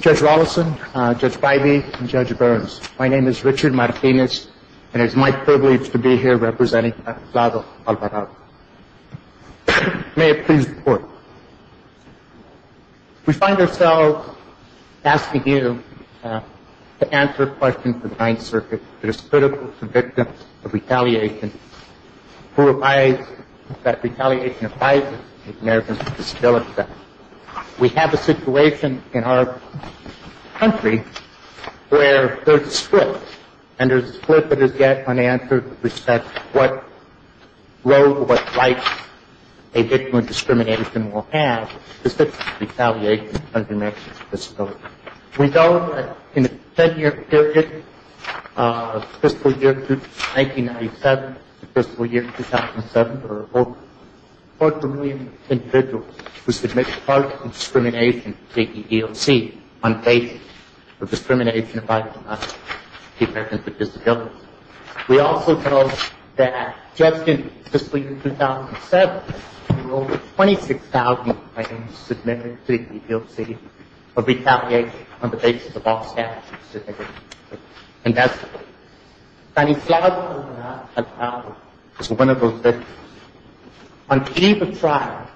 Judge Rolison, Judge Bivey, and Judge Burns, my name is Richard Martinez and it is my privilege to be here representing Tannislado Alvarado. May I please report. We find ourselves asking you to answer questions of the Ninth Circuit that is critical to victims of retaliation who advise that retaliation of violence against Americans is still a fact. We have a situation in our country where there is a split, and there is a split that is yet unanswered with respect to what role or what rights a victim of discrimination will have to sit for retaliation of an American's disability. We know that in the 10-year period, fiscal year 1997 to fiscal year 2007, there were over a quarter million individuals who submitted to the EEOC on the basis of discrimination of violence against Americans with disabilities. We also know that, just in fiscal year 2007, there were over 26,000 claims submitted to the EEOC of retaliation on the basis of off-status, and that's it. Tannislado Alvarado is one of those victims. On the eve of trial,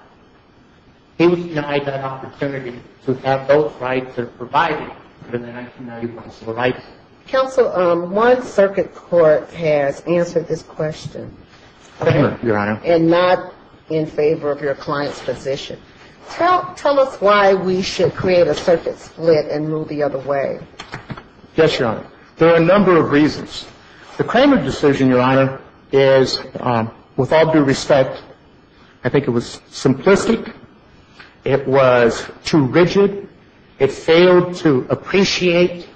he was denied that opportunity to have those rights as provided for in the 1991 Civil Rights Act. Counsel, one circuit court has answered this question, and not in favor of your client's position. Tell us why we should create a circuit split and move the other way. Yes, Your Honor. There are a number of reasons. The Kramer decision, Your Honor, is, with all due respect, I think it was simplistic. It was too rigid. It failed to appreciate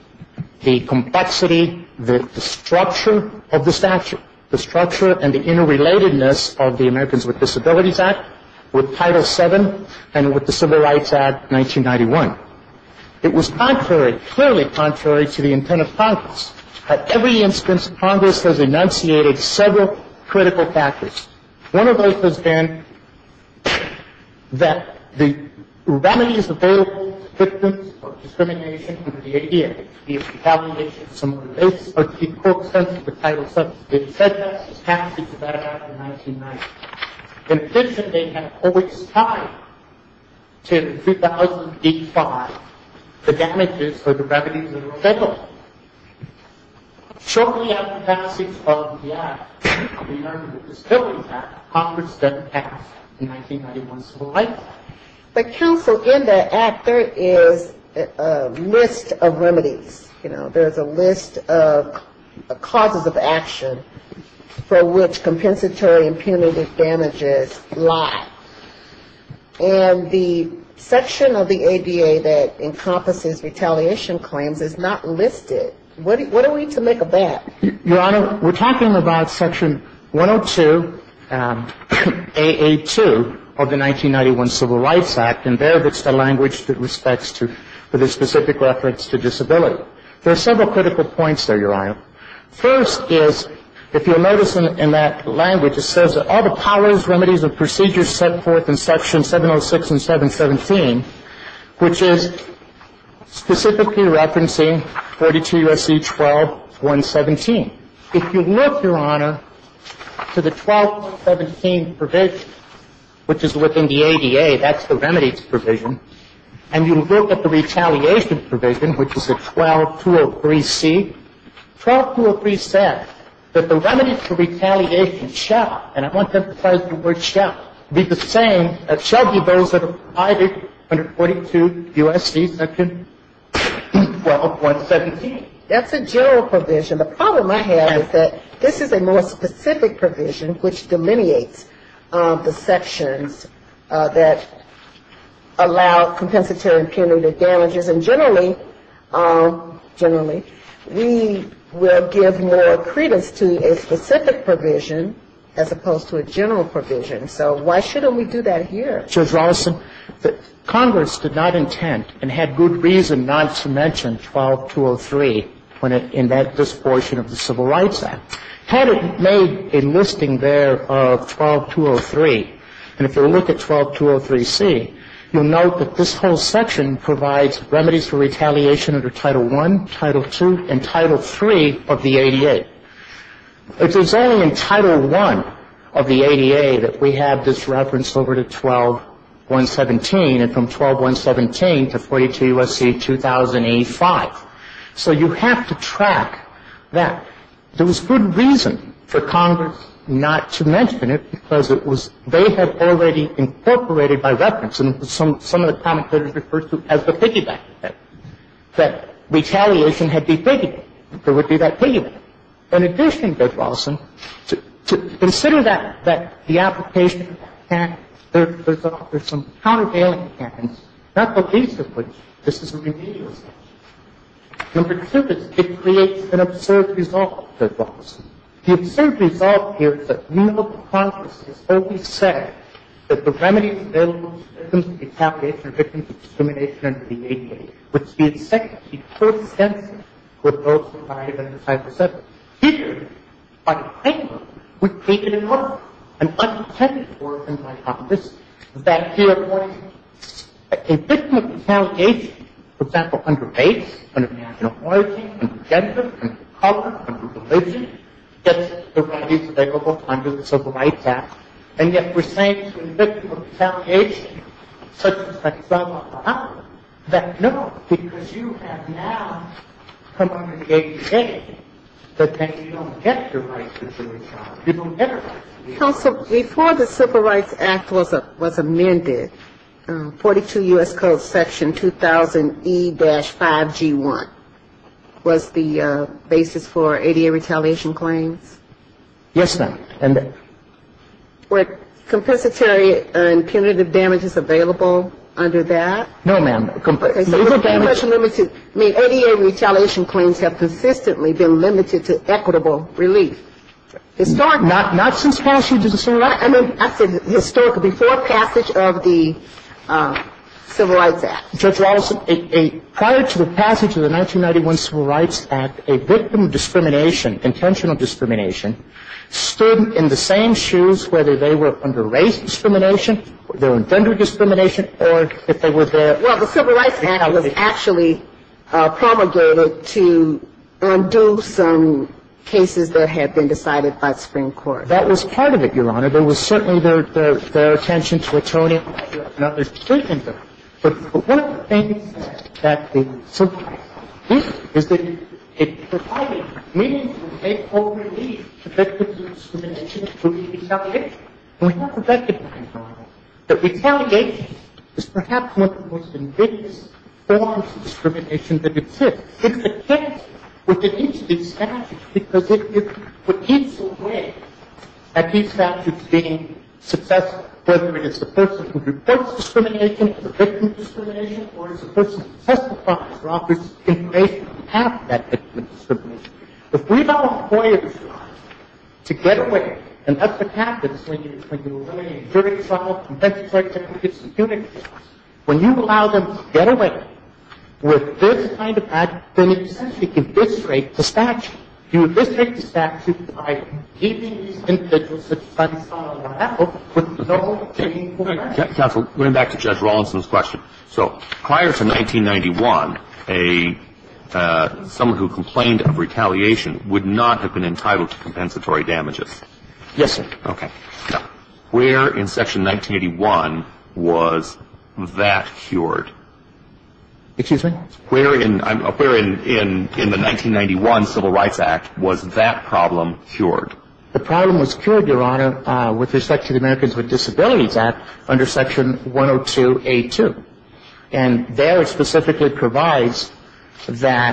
the complexity, the structure of the statute, the structure and the interrelatedness of the Americans with Disabilities Act with Title VII and with the Civil Rights Act 1991. It was contrary, clearly contrary, to the intent of Congress. At every instance, Congress has enunciated several critical factors. One of those has been that the remedies available to victims of discrimination under the ADA, the retaliation on the basis of the court's sense of the Title VII, they've said that since passage of that Act in 1990. In addition, they have always tied to 3005 the damages for the remedies that are available. Shortly after the passage of the Act regarding the Disabilities Act, Congress doesn't pass the 1991 Civil Rights Act. But Counsel, in that Act, there is a list of remedies. There is a list of causes of why. And the section of the ADA that encompasses retaliation claims is not listed. What are we to make of that? Your Honor, we're talking about Section 102, AA2 of the 1991 Civil Rights Act, and there it's the language that respects to the specific reference to disability. There are several critical points there, Your Honor. First is, if you'll notice in that language, it says all the powers, remedies, and procedures set forth in Section 706 and 717, which is specifically referencing 42 U.S.C. 12.117. If you look, Your Honor, to the 12.117 provision, which is within the ADA, that's the remedies provision, and you look at the retaliation provision, which is the 12.203c, 12.203 says that the remedies for retaliation shall, and I'm not emphasizing the word shall, be the same as shall be those that apply to 42 U.S.C. 12.117. That's a general provision. The problem I have is that this is a more specific provision, which delineates the sections that allow compensatory and punitive damages. And generally, generally, we will give more credence to a specific provision, as opposed to a more specific general provision. So why shouldn't we do that here? Judge Rolison, Congress did not intend, and had good reason not to mention 12.203 in this portion of the Civil Rights Act. Had it made a listing there of 12.203, and if you look at 12.203c, you'll note that this whole section provides remedies for retaliation under Title I of the ADA, that we have this reference over to 12.117, and from 12.117 to 42 U.S.C. 2005. So you have to track that. There was good reason for Congress not to mention it, because it was they had already incorporated by reference, and some of the commentators referred to as the piggyback effect, that retaliation had been piggybacked. There would be that piggyback. In addition, Judge Rolison, to consider that the application, there's some countervailing evidence, not the least of which, this is a remedial section. In particular, it creates an absurd result, Judge Rolison. The absurd result here is that no Congress has ever said that the remedies available to victims of retaliation are victims of discrimination under the ADA, which the plaintiff would take it in order, and unintended for, in my opinion, is that here, a victim of retaliation, for example, under race, under national origin, under gender, under color, under religion, gets the remedies available under the Civil Rights Act, and yet we're saying to a victim of retaliation, such as that 12.111, that no, because you have now come under the ADA, that you don't get the rights of the victim, you don't get her rights. Counsel, before the Civil Rights Act was amended, 42 U.S. Code section 2000E-5G1, was the basis for ADA retaliation claims? Yes, ma'am. Were compensatory and punitive damages available under that? No, ma'am. ADA retaliation claims have persistently been limited to equitable relief. Not since passage of the Civil Rights Act? I said historical, before passage of the Civil Rights Act. Judge Rolison, prior to the passage of the 1991 Civil Rights Act, a victim of discrimination, intentional discrimination, stood in the same shoes whether they were under race discrimination, their own gender discrimination, or if they were there. Well, the Civil Rights Act was actually promulgated to undo some cases that had been decided by the Supreme Court. That was part of it, Your Honor. There was certainly their attention to atonement. But one of the things that the Civil Rights Act did is that it provided meaningful relief to victims of discrimination through retaliation. And we have to recognize, Your Honor, that retaliation is perhaps one of the most ambiguous forms of discrimination that exists. It's a case within each of these statutes because it repeats away at each statute being successful, whether it is the person who reports discrimination as a victim of discrimination or it's the person who testifies or offers information to have that victim of discrimination. If we allow lawyers to get away, and that's what happens when you eliminate jury trial, conviction trial, certificates, and punitive trials. When you allow them to get away with this kind of act, then essentially you disintegrate the statute. You disintegrate the statute by keeping these individuals, such as Sunstein and Raffel, with no claim for action. Counsel, going back to Judge Rolison's question, so prior to 1991, someone who complained of retaliation would not have been entitled to compensatory damages? Yes, sir. Okay. Where in Section 1981 was that cured? Excuse me? Where in the 1991 Civil Rights Act was that problem cured? The problem was cured, Your Honor, with respect to the Americans with Disabilities Act under Section 102A2. And there it specifically provides that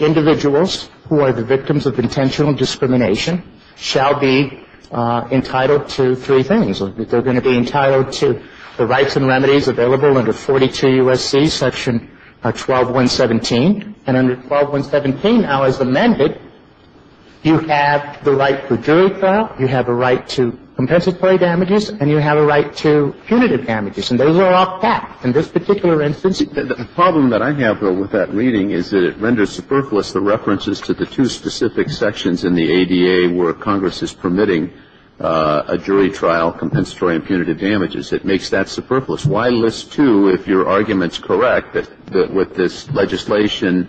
individuals who are the victims of intentional discrimination shall be entitled to three things. They're going to be entitled to the rights and remedies available under 42 U.S.C. Section 12117. And under 12117, now as amended, you have the right for jury trial, you have a right to compensatory damages, and you have a right to punitive damages. And those are all facts in this particular instance. The problem that I have, though, with that reading is that it renders superfluous the references to the two specific sections in the ADA where Congress is permitting a jury trial, compensatory and punitive damages. It makes that superfluous. Why list two if your argument is correct that with this legislation,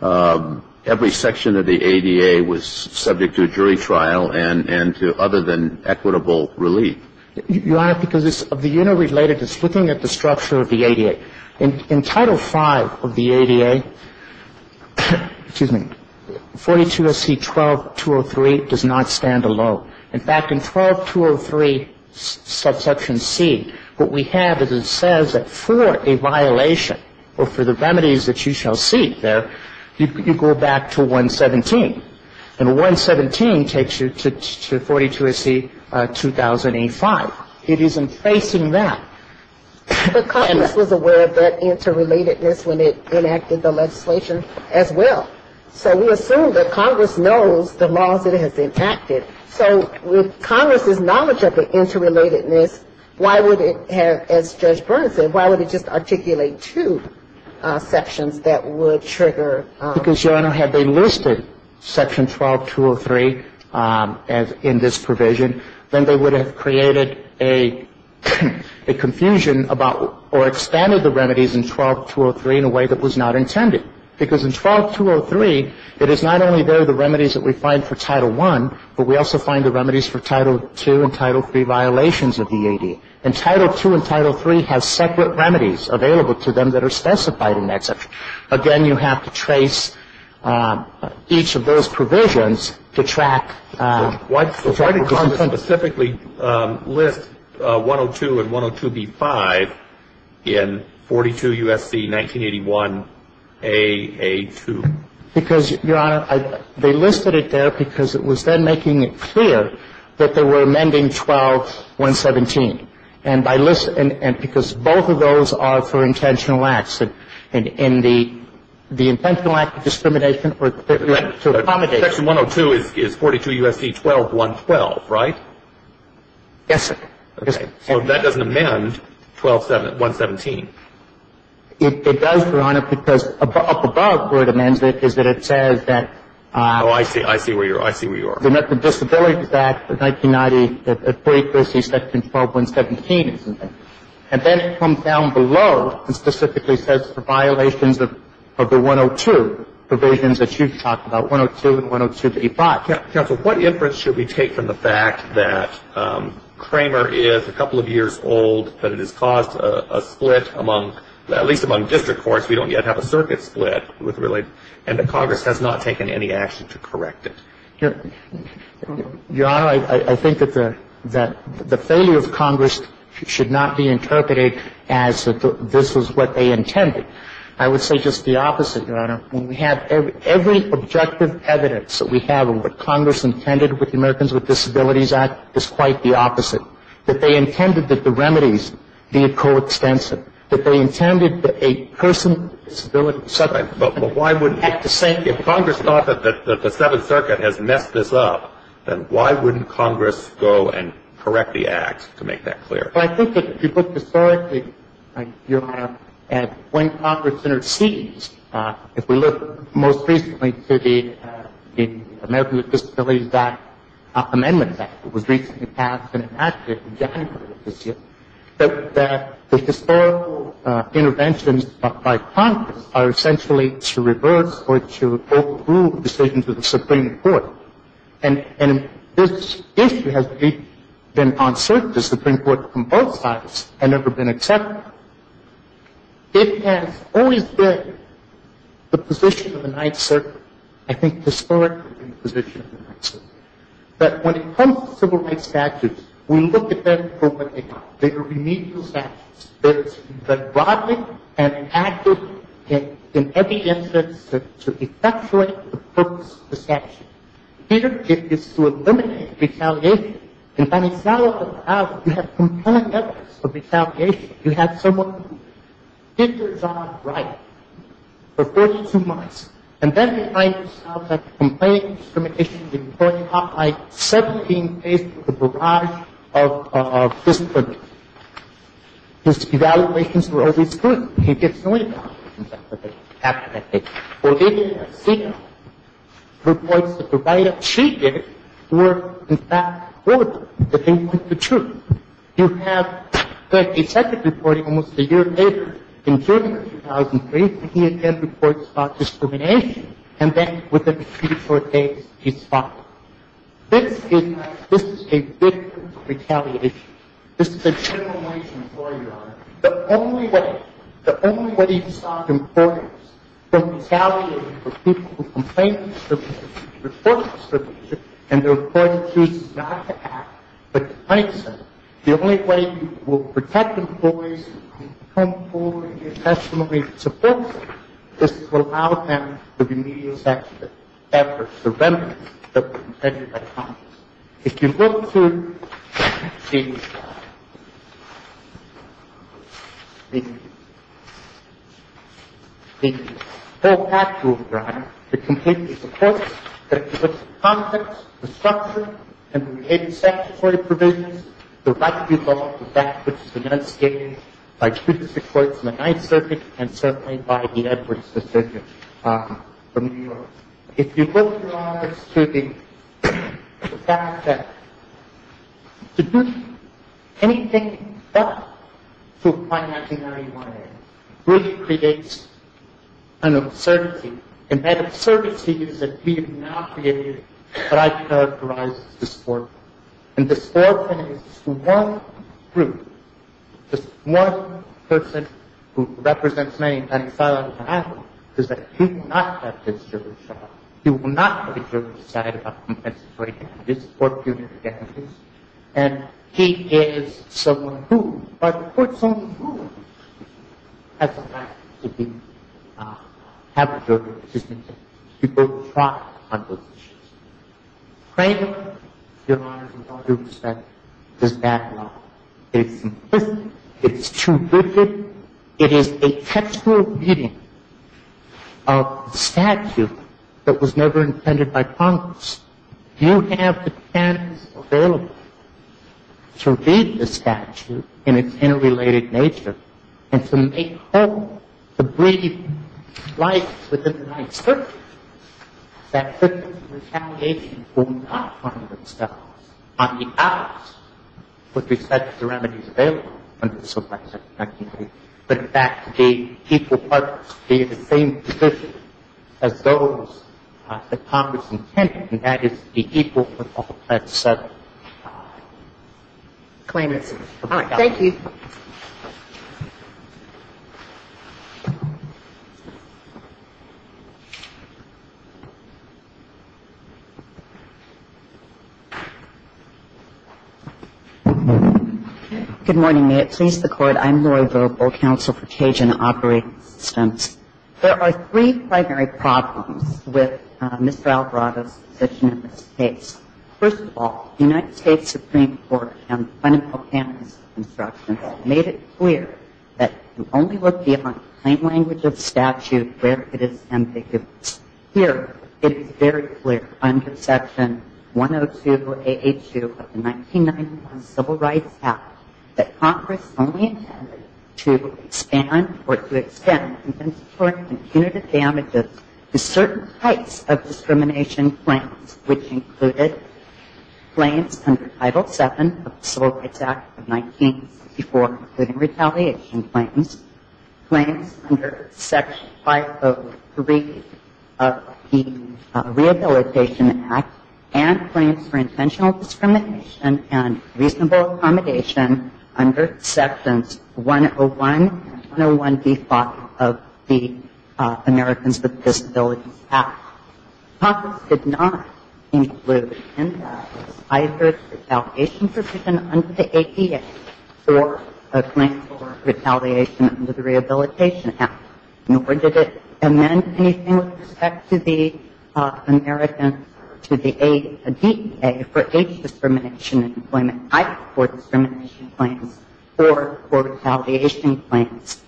every section of the ADA was subject to a jury trial and to other than equitable relief? Your Honor, because it's of the unit related, it's looking at the structure of the ADA. In Title V of the ADA, 42 U.S.C. 12203 does not stand alone. In fact, in 12203 subsection C, what we have is it says that for a violation or for the violation of Section 117, and 117 takes you to 42 U.S.C. 2085. It isn't facing that. But Congress was aware of that interrelatedness when it enacted the legislation as well. So we assume that Congress knows the laws that it has impacted. So with Congress's knowledge of the interrelatedness, why would it have, as Judge Burns said, why would it just articulate two sections that would trigger? Because, Your Honor, had they listed Section 12203 in this provision, then they would have created a confusion about or expanded the remedies in 12203 in a way that was not intended. Because in 12203, it is not only there the remedies that we find for Title I, but we also find the remedies for Title II and Title III violations of the ADA. And Title II and Title III have separate remedies available to them that are specified in that section. Again, you have to trace each of those provisions to track. Why did Congress specifically list 102 and 102B5 in 42 U.S.C. 1981AA2? Because, Your Honor, they listed it there because it was then making it clear that they were amending 12117. And because both of those are for intentional acts. And the intentional act of discrimination or to accommodate. Section 102 is 42 U.S.C. 12112, right? Yes, sir. Okay. So that doesn't amend 12117. It does, Your Honor, because up above where it amends it is that it says that Oh, I see where you are. They met the Disabilities Act of 1990 at 42 U.S.C. section 12117, isn't it? And then it comes down below and specifically says the violations of the 102 provisions that you talked about, 102 and 102B5. Counsel, what inference should we take from the fact that Kramer is a couple of years old, that it has caused a split among, at least among district courts. We don't yet have a circuit split. And that Congress has not taken any action to correct it. Your Honor, I think that the failure of Congress should not be interpreted as that this was what they intended. I would say just the opposite, Your Honor. When we have every objective evidence that we have of what Congress intended with the Americans with Disabilities Act is quite the opposite. That they intended that the remedies be coextensive. That they intended that a person with a disability had to say If Congress thought that the Seventh Circuit has messed this up, then why wouldn't Congress go and correct the act to make that clear? Well, I think that if you look historically, Your Honor, at when Congress intercedes, if we look most recently to the Americans with Disabilities Act amendment that was recently passed in January of this year, that the historical interventions by Congress are essentially to reverse or to approve decisions of the Supreme Court. And this issue has been on circuit to the Supreme Court from both sides and never been accepted. It has always been the position of the Ninth Circuit, I think historically the position of the Ninth Circuit, that when it comes to civil rights statutes, we look at them from a bigger, remedial status. That it's been brought in and enacted in every instance to effectuate the purpose of the statute. Here, it is to eliminate retaliation. In Tanizawa, for example, you have compelling evidence of retaliation. You have someone who did their job right for 42 months and then you find yourself like a complaining discrimination employee off by 17 days with a barrage of discrimination. His evaluations were always good. He gets no income. Olivia Sika reports that the write-ups she gave were, in fact, bulletin, that they want the truth. You have the Ninth Circuit reporting almost a year later, in June of 2003, when he again reports about discrimination. And then, within a few short days, he's fired. This is a victim of retaliation. This is a generalized employer, Your Honor. The only way to stop employers from retaliating for people who complain discrimination, report discrimination, and their employees choose not to act but to fight them, the only way you will protect employees who come forward and give testimony in support of them is to allow them to be immediately sanctioned after the remedy that was presented by Congress. If you look to the whole Act, Your Honor, it completely supports that if you look at the context, the structure, and the behavior-sanctionatory provisions, the right to be held to that which is enunciated by two of the six courts in the Ninth Circuit and certainly by the Edwards decision from New York. If you look, Your Honor, to the fact that to do anything but to apply the 1991 Act really creates an absurdity. And that absurdity is that we have now created what I characterize as a disproportionate swarm of groups. This one person who represents me and I'm silent about it is that he will not have his jury shot. He will not have his jury decided about compensatory damages or punitive damages. And he is someone who, by the court's own rules, has the right to have a jury decision. People try on those issues. Frankly, Your Honor, from my perspective, this backlog is simplistic. It's too rigid. It is a textual reading of the statute that was never intended by Congress. You have the chance available to read the statute in its interrelated nature and to make hope, to breathe life within the Ninth Circuit that victims of retaliation will not find themselves on the outskirts with respect to the remedies available under the Civil Rights Act of 1993, but in fact be equal partners, be in the same position as those that Congress intended, and that is to be equal with all that's said and done. Claim it. Thank you. Good morning. May it please the Court. I'm Lori Vogel, Counsel for Cajun Operating Assistance. There are three primary problems with Mr. Alvarado's position in this case. First of all, the United States Supreme Court on Fundamental Candidacy Constructions made it clear that you only look beyond plain language of statute where it is ambiguous. Here it is very clear under Section 102-882 of the 1991 Civil Rights Act that Congress only intended to expand or to extend compensatory and punitive damages to certain types of discrimination claims, which included claims under Title VII of the Civil Rights Act of 1964, including retaliation claims, claims under Section 503 of the Rehabilitation Act, and claims for intentional discrimination and reasonable accommodation under Sections 101 and 101b-5 of the Americans with Disabilities Act. Congress did not include in that either retaliation provision under the ADA or a claim for retaliation under the Rehabilitation Act, nor did it amend anything with respect to the ADA for age discrimination and employment type for discrimination claims or for retaliation claims.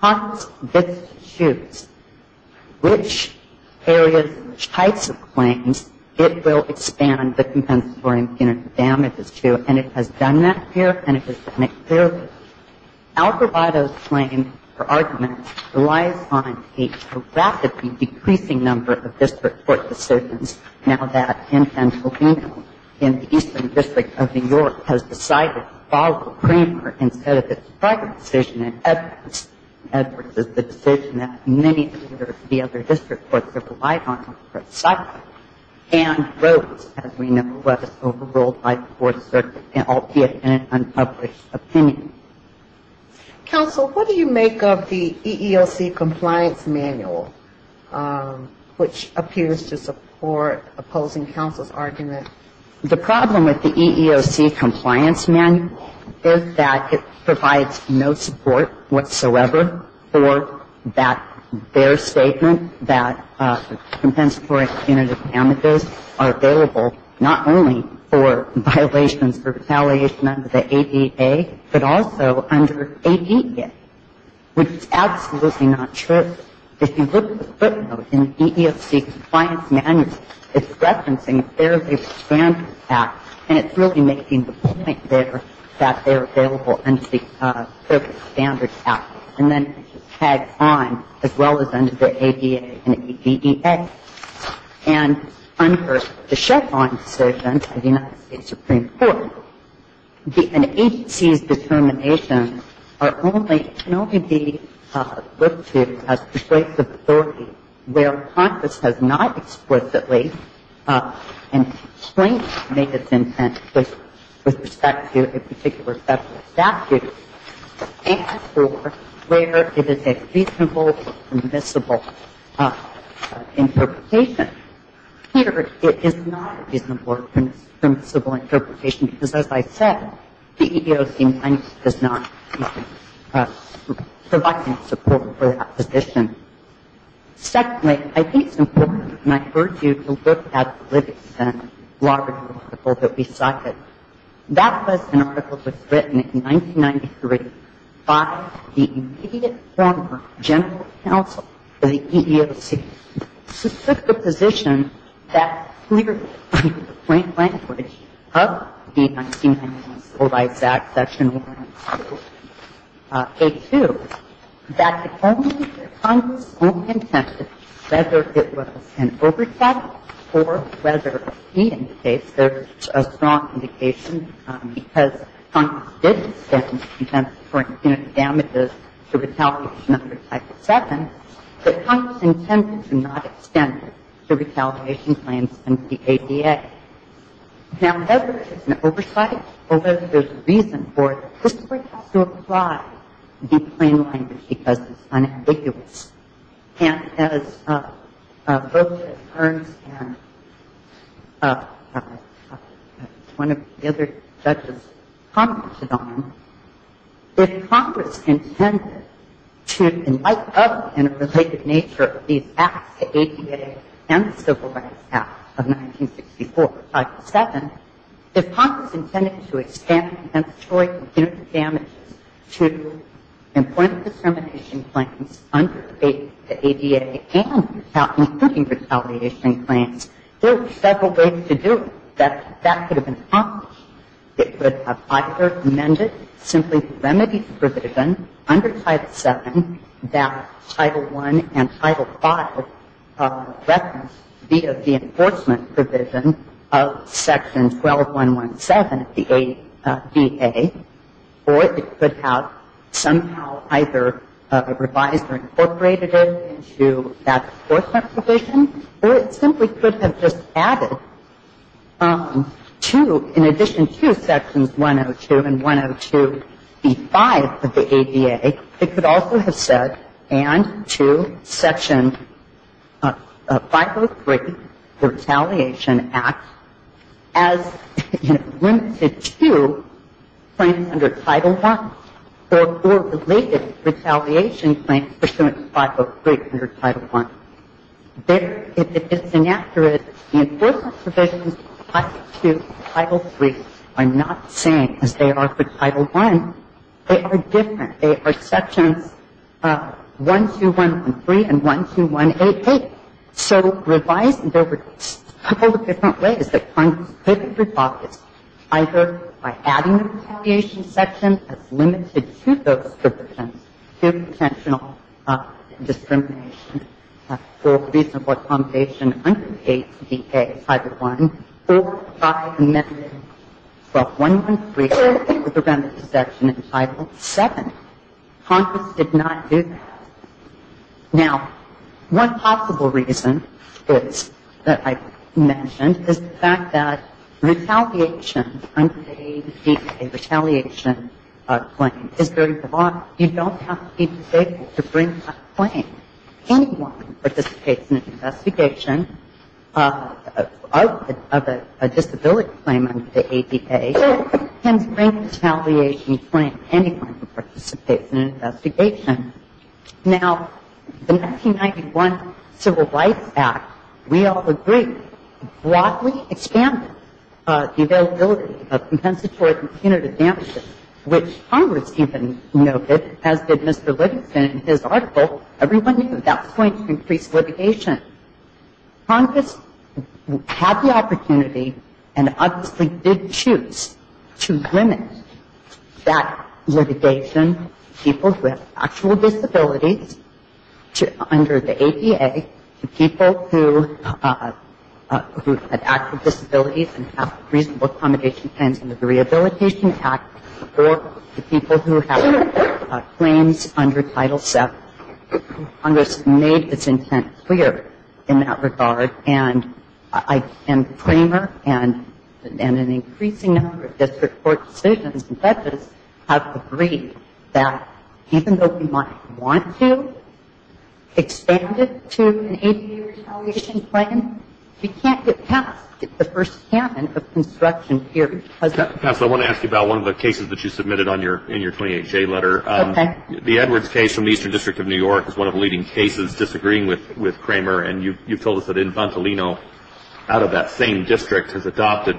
Because this shoots which areas and which types of claims it will expand the compensatory and punitive damages to, and it has done that here and it has done it clearly. Algarvado's claim or argument relies on a drastically decreasing number of district court decisions. Now that in Pennsylvania, in the Eastern District of New York, has decided to follow Kramer instead of his private decision in Edwards. Edwards is the decision that many of the other district courts have relied on, and wrote, as we know, was overruled by the Fourth Circuit albeit in an unpublished opinion. Counsel, what do you make of the EEOC Compliance Manual, which appears to support opposing counsel's argument? The problem with the EEOC Compliance Manual is that it provides no support whatsoever for that, their statement that compensatory and punitive damages are available not only for violations or retaliation under the ADA, but also under ADEA, which is absolutely not true. If you look at the footnote in the EEOC Compliance Manual, it's referencing their standard act, and it's really making the point there that they're available under the standard act, and then tagged on as well as under the ADA and ADEA. And under the Chevron decision of the United States Supreme Court, an agency's determinations can only be looked to as persuasive authority where Congress has not explicitly and plainly made its intent with respect to a particular federal statute and for where it is a reasonable or permissible interpretation. Here, it is not a reasonable or permissible interpretation, because as I said, the EEOC does not provide any support for that position. Secondly, I think it's important, and I urge you to look at the Livingston Law Review article that we cited. That was an article that was written in 1993 by the immediate former general counsel of the EEOC. It took the position that clearly, in the plain language of the 1990s, provides that section 1 and 2, A2, that only Congress's own intent, whether it was an overtact or whether, in this case, there's a strong indication because Congress did extend the intent for impunity damages to retaliation under Title VII, that Congress intended to not extend the retaliation claims under the ADA. Now, whether it's an oversight or whether there's a reason for it, this Court has to apply the plain language because it's unambiguous. And as both Ernst and one of the other judges commented on, if Congress intended to light up in a related nature these acts, the ADA and the Civil Rights Act of 1964, Title VII, if Congress intended to extend compensatory impunity damages to employment discrimination claims under the ADA and including retaliation claims, there are several ways to do it. That could have been accomplished. It could have either amended simply the remedies provision under Title VII that Title I and Title V reference via the enforcement provision of Section 12117 of the ADA or it could have somehow either revised or incorporated it into that enforcement provision or it simply could have just added to, in addition to Sections 102 and 102b-5 of the ADA, it could also have said and to Section 503, the Retaliation Act, as limited to claims under Title I or for related retaliation claims pursuant to 503 under Title I. If it's inaccurate, the enforcement provisions under Title II and Title III are not the same as they are for Title I. They are different. They are Sections 12113 and 12188. So revised, there were a couple of different ways that Congress could have refocused, either by adding the retaliation section as limited to those to potential discrimination or reasonable accommodation under the ADA, Title I, or by amending 12113 with the remedy section in Title VII. Congress did not do that. Now, one possible reason that I mentioned is the fact that retaliation under the ADA, a retaliation claim, is very broad. You don't have to be disabled to bring that claim. Anyone who participates in an investigation of a disability claim under the ADA can bring a retaliation claim. Anyone who participates in an investigation Now, the 1991 Civil Rights Act, we all agree, broadly expanded the availability of compensatory punitive damages, which Congress even noted, as did Mr. Livingston in his article. Everyone knew that was going to increase litigation. Congress had the opportunity and obviously did choose to limit that litigation to people who have actual disabilities under the ADA, to people who have active disabilities and have reasonable accommodation claims under the Rehabilitation Act, or to people who have claims under Title VII. Congress made its intent clear in that regard, and the Claimer and an increasing number of district court decisions and judges have agreed that even though we might want to expand it to an ADA retaliation claim, we can't get past the first canon of construction here. Counsel, I want to ask you about one of the cases that you submitted in your 28-J letter. Okay. The Edwards case from the Eastern District of New York is one of the leading cases disagreeing with Kramer and you've told us that Inventolino, out of that same district, has adopted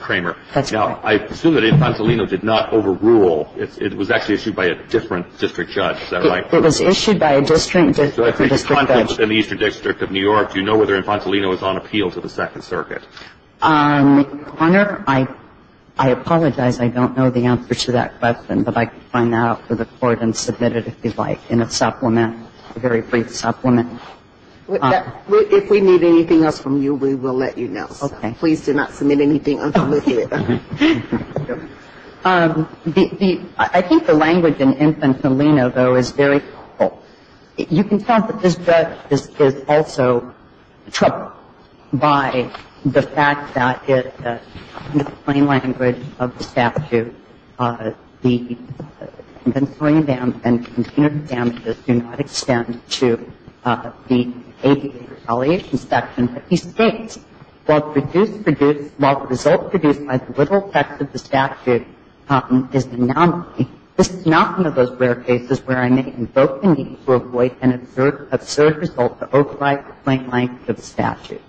Kramer. That's right. Now, I assume that Inventolino did not overrule. It was actually issued by a different district judge. Is that right? It was issued by a district judge. In the Eastern District of New York, do you know whether Inventolino is on appeal to the Second Circuit? Your Honor, I apologize. I don't know the answer to that question, but I can find out for the Court and submit it if you'd like in a supplement, a very brief supplement. If we need anything else from you, we will let you know. Okay. Please do not submit anything until we hear it. Okay. I think the language in Inventolino, though, is very powerful. You can tell that this judge is also troubled by the fact that in the plain language of the statute, the Inventolino dam and container damages do not extend to the ADA retaliation section. But he states, while the results produced by the literal text of the statute is not one of those rare cases where I may invoke the need to avoid an absurd result to override the plain language of the statute.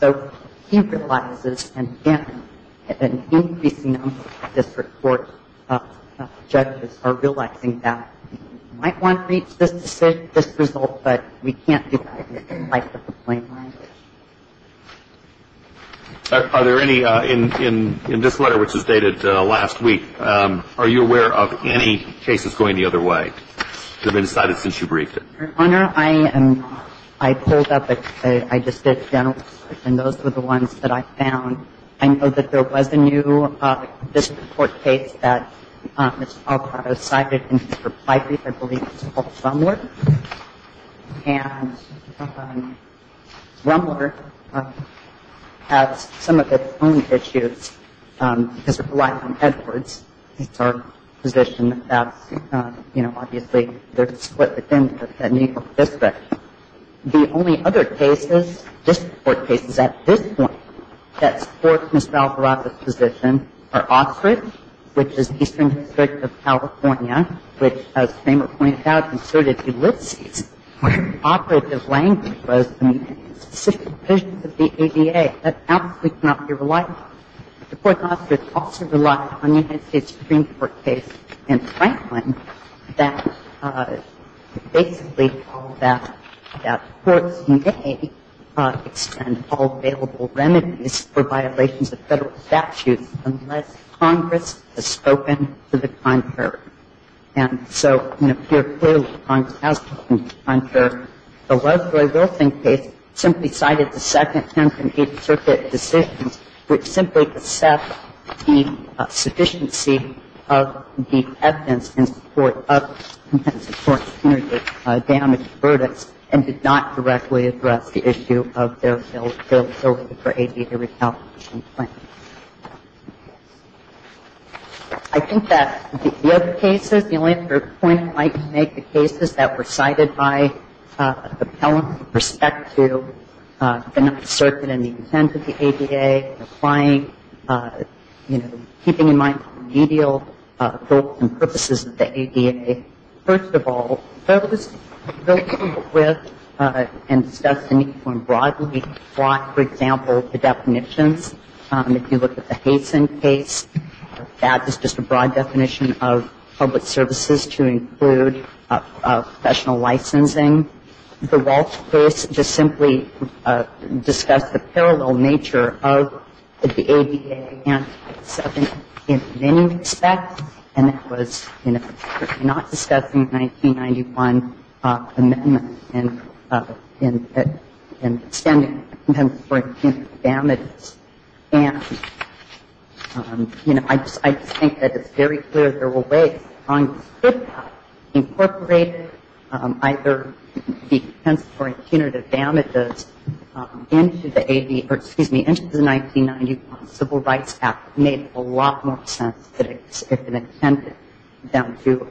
So he realizes, and again, an increasing number of district court judges are relaxing that we might want to reach this result, but we can't do that in the light of the plain language. Are there any, in this letter, which was dated last week, are you aware of any cases going the other way that have been cited since you briefed it? Your Honor, I pulled up, I just did a general search, and those were the ones that I found. I know that there was a new district court case that Mr. Alvarado cited in his reply brief. I believe it's called Rumler. And Rumler has some of its own issues because it relies on Edwards. It's our position that that's, you know, obviously there's a split within that new district. The only other cases, district court cases, at this point that support Ms. Valparaiso's position are Ostrich, which is Eastern District of California, which, as Kramer pointed out, inserted Ulysses where operative language was the specific provisions of the ADA. That absolutely cannot be relied on. The court in Ostrich also relies on the United States Supreme Court case in Franklin that basically called that courts may extend all available remedies for violations of federal statutes unless Congress has spoken to the contrary. And so, you know, here clearly Congress has spoken to the contrary. The Leslie Wilson case simply cited the Second Tenth and Eighth Circuit decisions which simply accept the sufficiency of the evidence in support of, in support of damages, verdicts, and did not directly address the issue of their facility for ADA retaliation claims. I think that the other cases, the only other point I'd like to make, the cases that were cited by appellants with respect to the Ninth Circuit and the intent of the ADA, applying, you know, keeping in mind remedial goals and purposes of the ADA, first of all, those dealt with and discussed in uniform broadly. For example, the definitions. If you look at the Hayson case, that is just a broad definition of public services to include professional licensing. The Walsh case just simply discussed the parallel nature of the ADA and the Ninth Circuit in many respects and it was not discussed in the 1991 amendment in extending compensatory punitive damages and, you know, I just think that it's very clear there were ways on which to incorporate either the compensatory punitive damages into the AD, or excuse me, into the 1991 Civil Rights Act made a lot more sense if it intended them to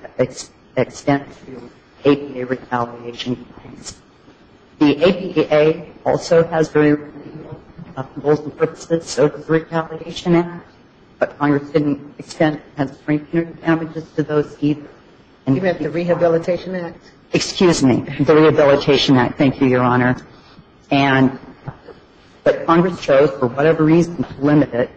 extend to APA retaliation. The APA also has very remedial goals and purposes of the Retaliation Act, but Congress didn't extend compensatory punitive damages to those either. You meant the Rehabilitation Act? Excuse me, the Rehabilitation Act. Thank you, Your Honor. And, but Congress chose, for whatever reason, to limit it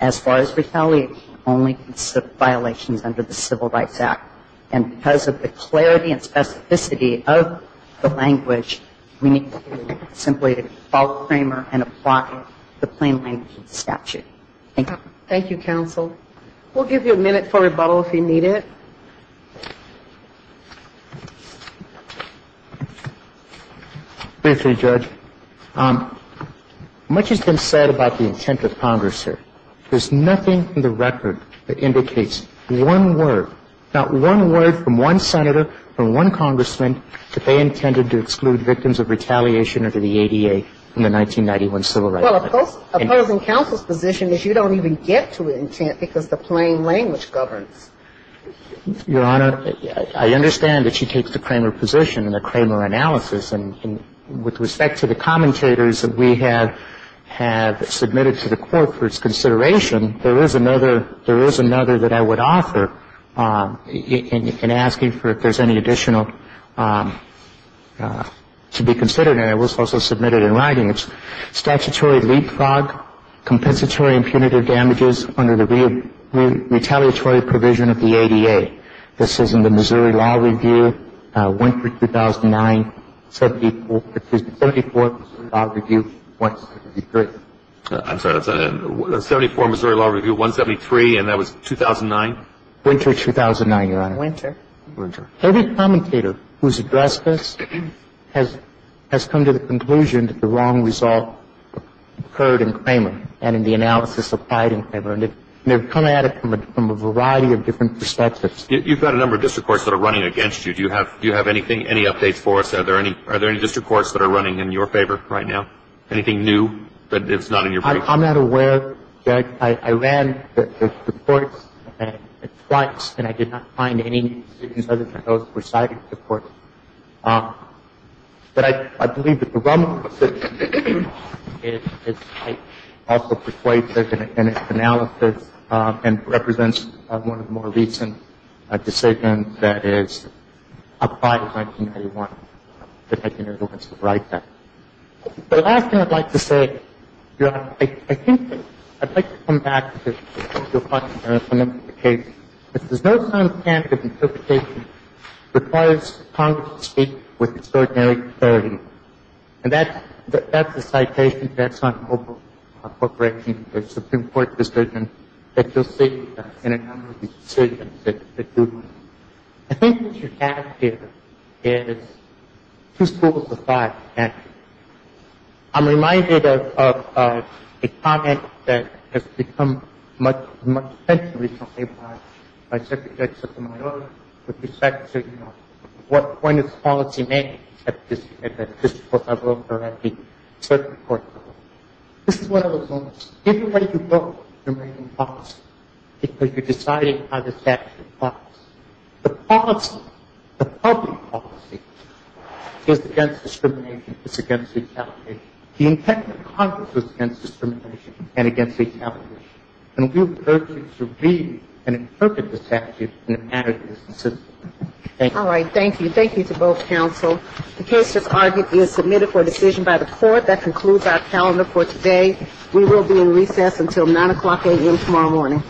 as far as retaliation only to violations under the Civil Rights Act and because of the clarity and specificity of the language we need to simply follow Kramer and apply the plain language statute. Thank you. Thank you, Counsel. We'll give you a minute for rebuttal if you need it. Thank you, Judge. Much has been said about the intent of Congress here. There's nothing in the record that indicates one word not one word from one senator or one congressman that they intended to exclude victims of retaliation under the ADA in the 1991 Civil Rights Act. Well, opposing counsel's position is you don't even get to intent because the plain language governs. Your Honor, I understand that she takes the Kramer position and the Kramer analysis and with respect to the commentators that we have submitted to the Court for its consideration, there is another that I would offer in asking for if there's any additional to be considered and it was also submitted in writing. It's statutory leapfrog compensatory and punitive damages under the retaliatory provision of the ADA. This is in the Missouri Law Review 179 74 Law Review 173. I'm sorry. 74 Missouri Law Review 173 and that was 2009? Winter 2009, Your Honor. Every commentator who's addressed this has come to the conclusion that the wrong result occurred in Kramer and in the analysis applied in Kramer and they've come at it from a variety of different perspectives. You've got a number of district courts that are running against you. Do you have any updates for us? Are there any district courts that are running in your favor right now? Anything new? I'm not aware that I ran the courts twice and I did not find any decisions other than those presided over the courts. But I believe the problem is I also persuaded in its analysis and represents one of the more recent decisions that is applied in 1991. The last thing I'd like to say, Your Honor, I think I'd like to come back to your question, Your Honor, because there's no sound standard interpretation that requires Congress to speak with extraordinary clarity. And that's the citation that's on over-corporating the Supreme Court decision that you'll see in a number of decisions that do that. I think what you have here is two schools of thought, actually. I'm reminded of a comment that has become much, much, especially recently by Secretary Sotomayor with respect to what point is policy-making at the district level or at the circuit court level. This is one of those moments. Either way you vote, you're making policy because you're deciding how the statute is going to be enforced. The policy, the public policy is against discrimination, it's against retaliation. The intent of Congress was against discrimination and against retaliation. And we urge you to read and interpret the statute in a manner that is consistent. All right. Thank you. Thank you to both counsel. The case that's argued is submitted for decision by the court. That concludes our calendar for today. We will be in recess until 9 o'clock a.m. tomorrow morning.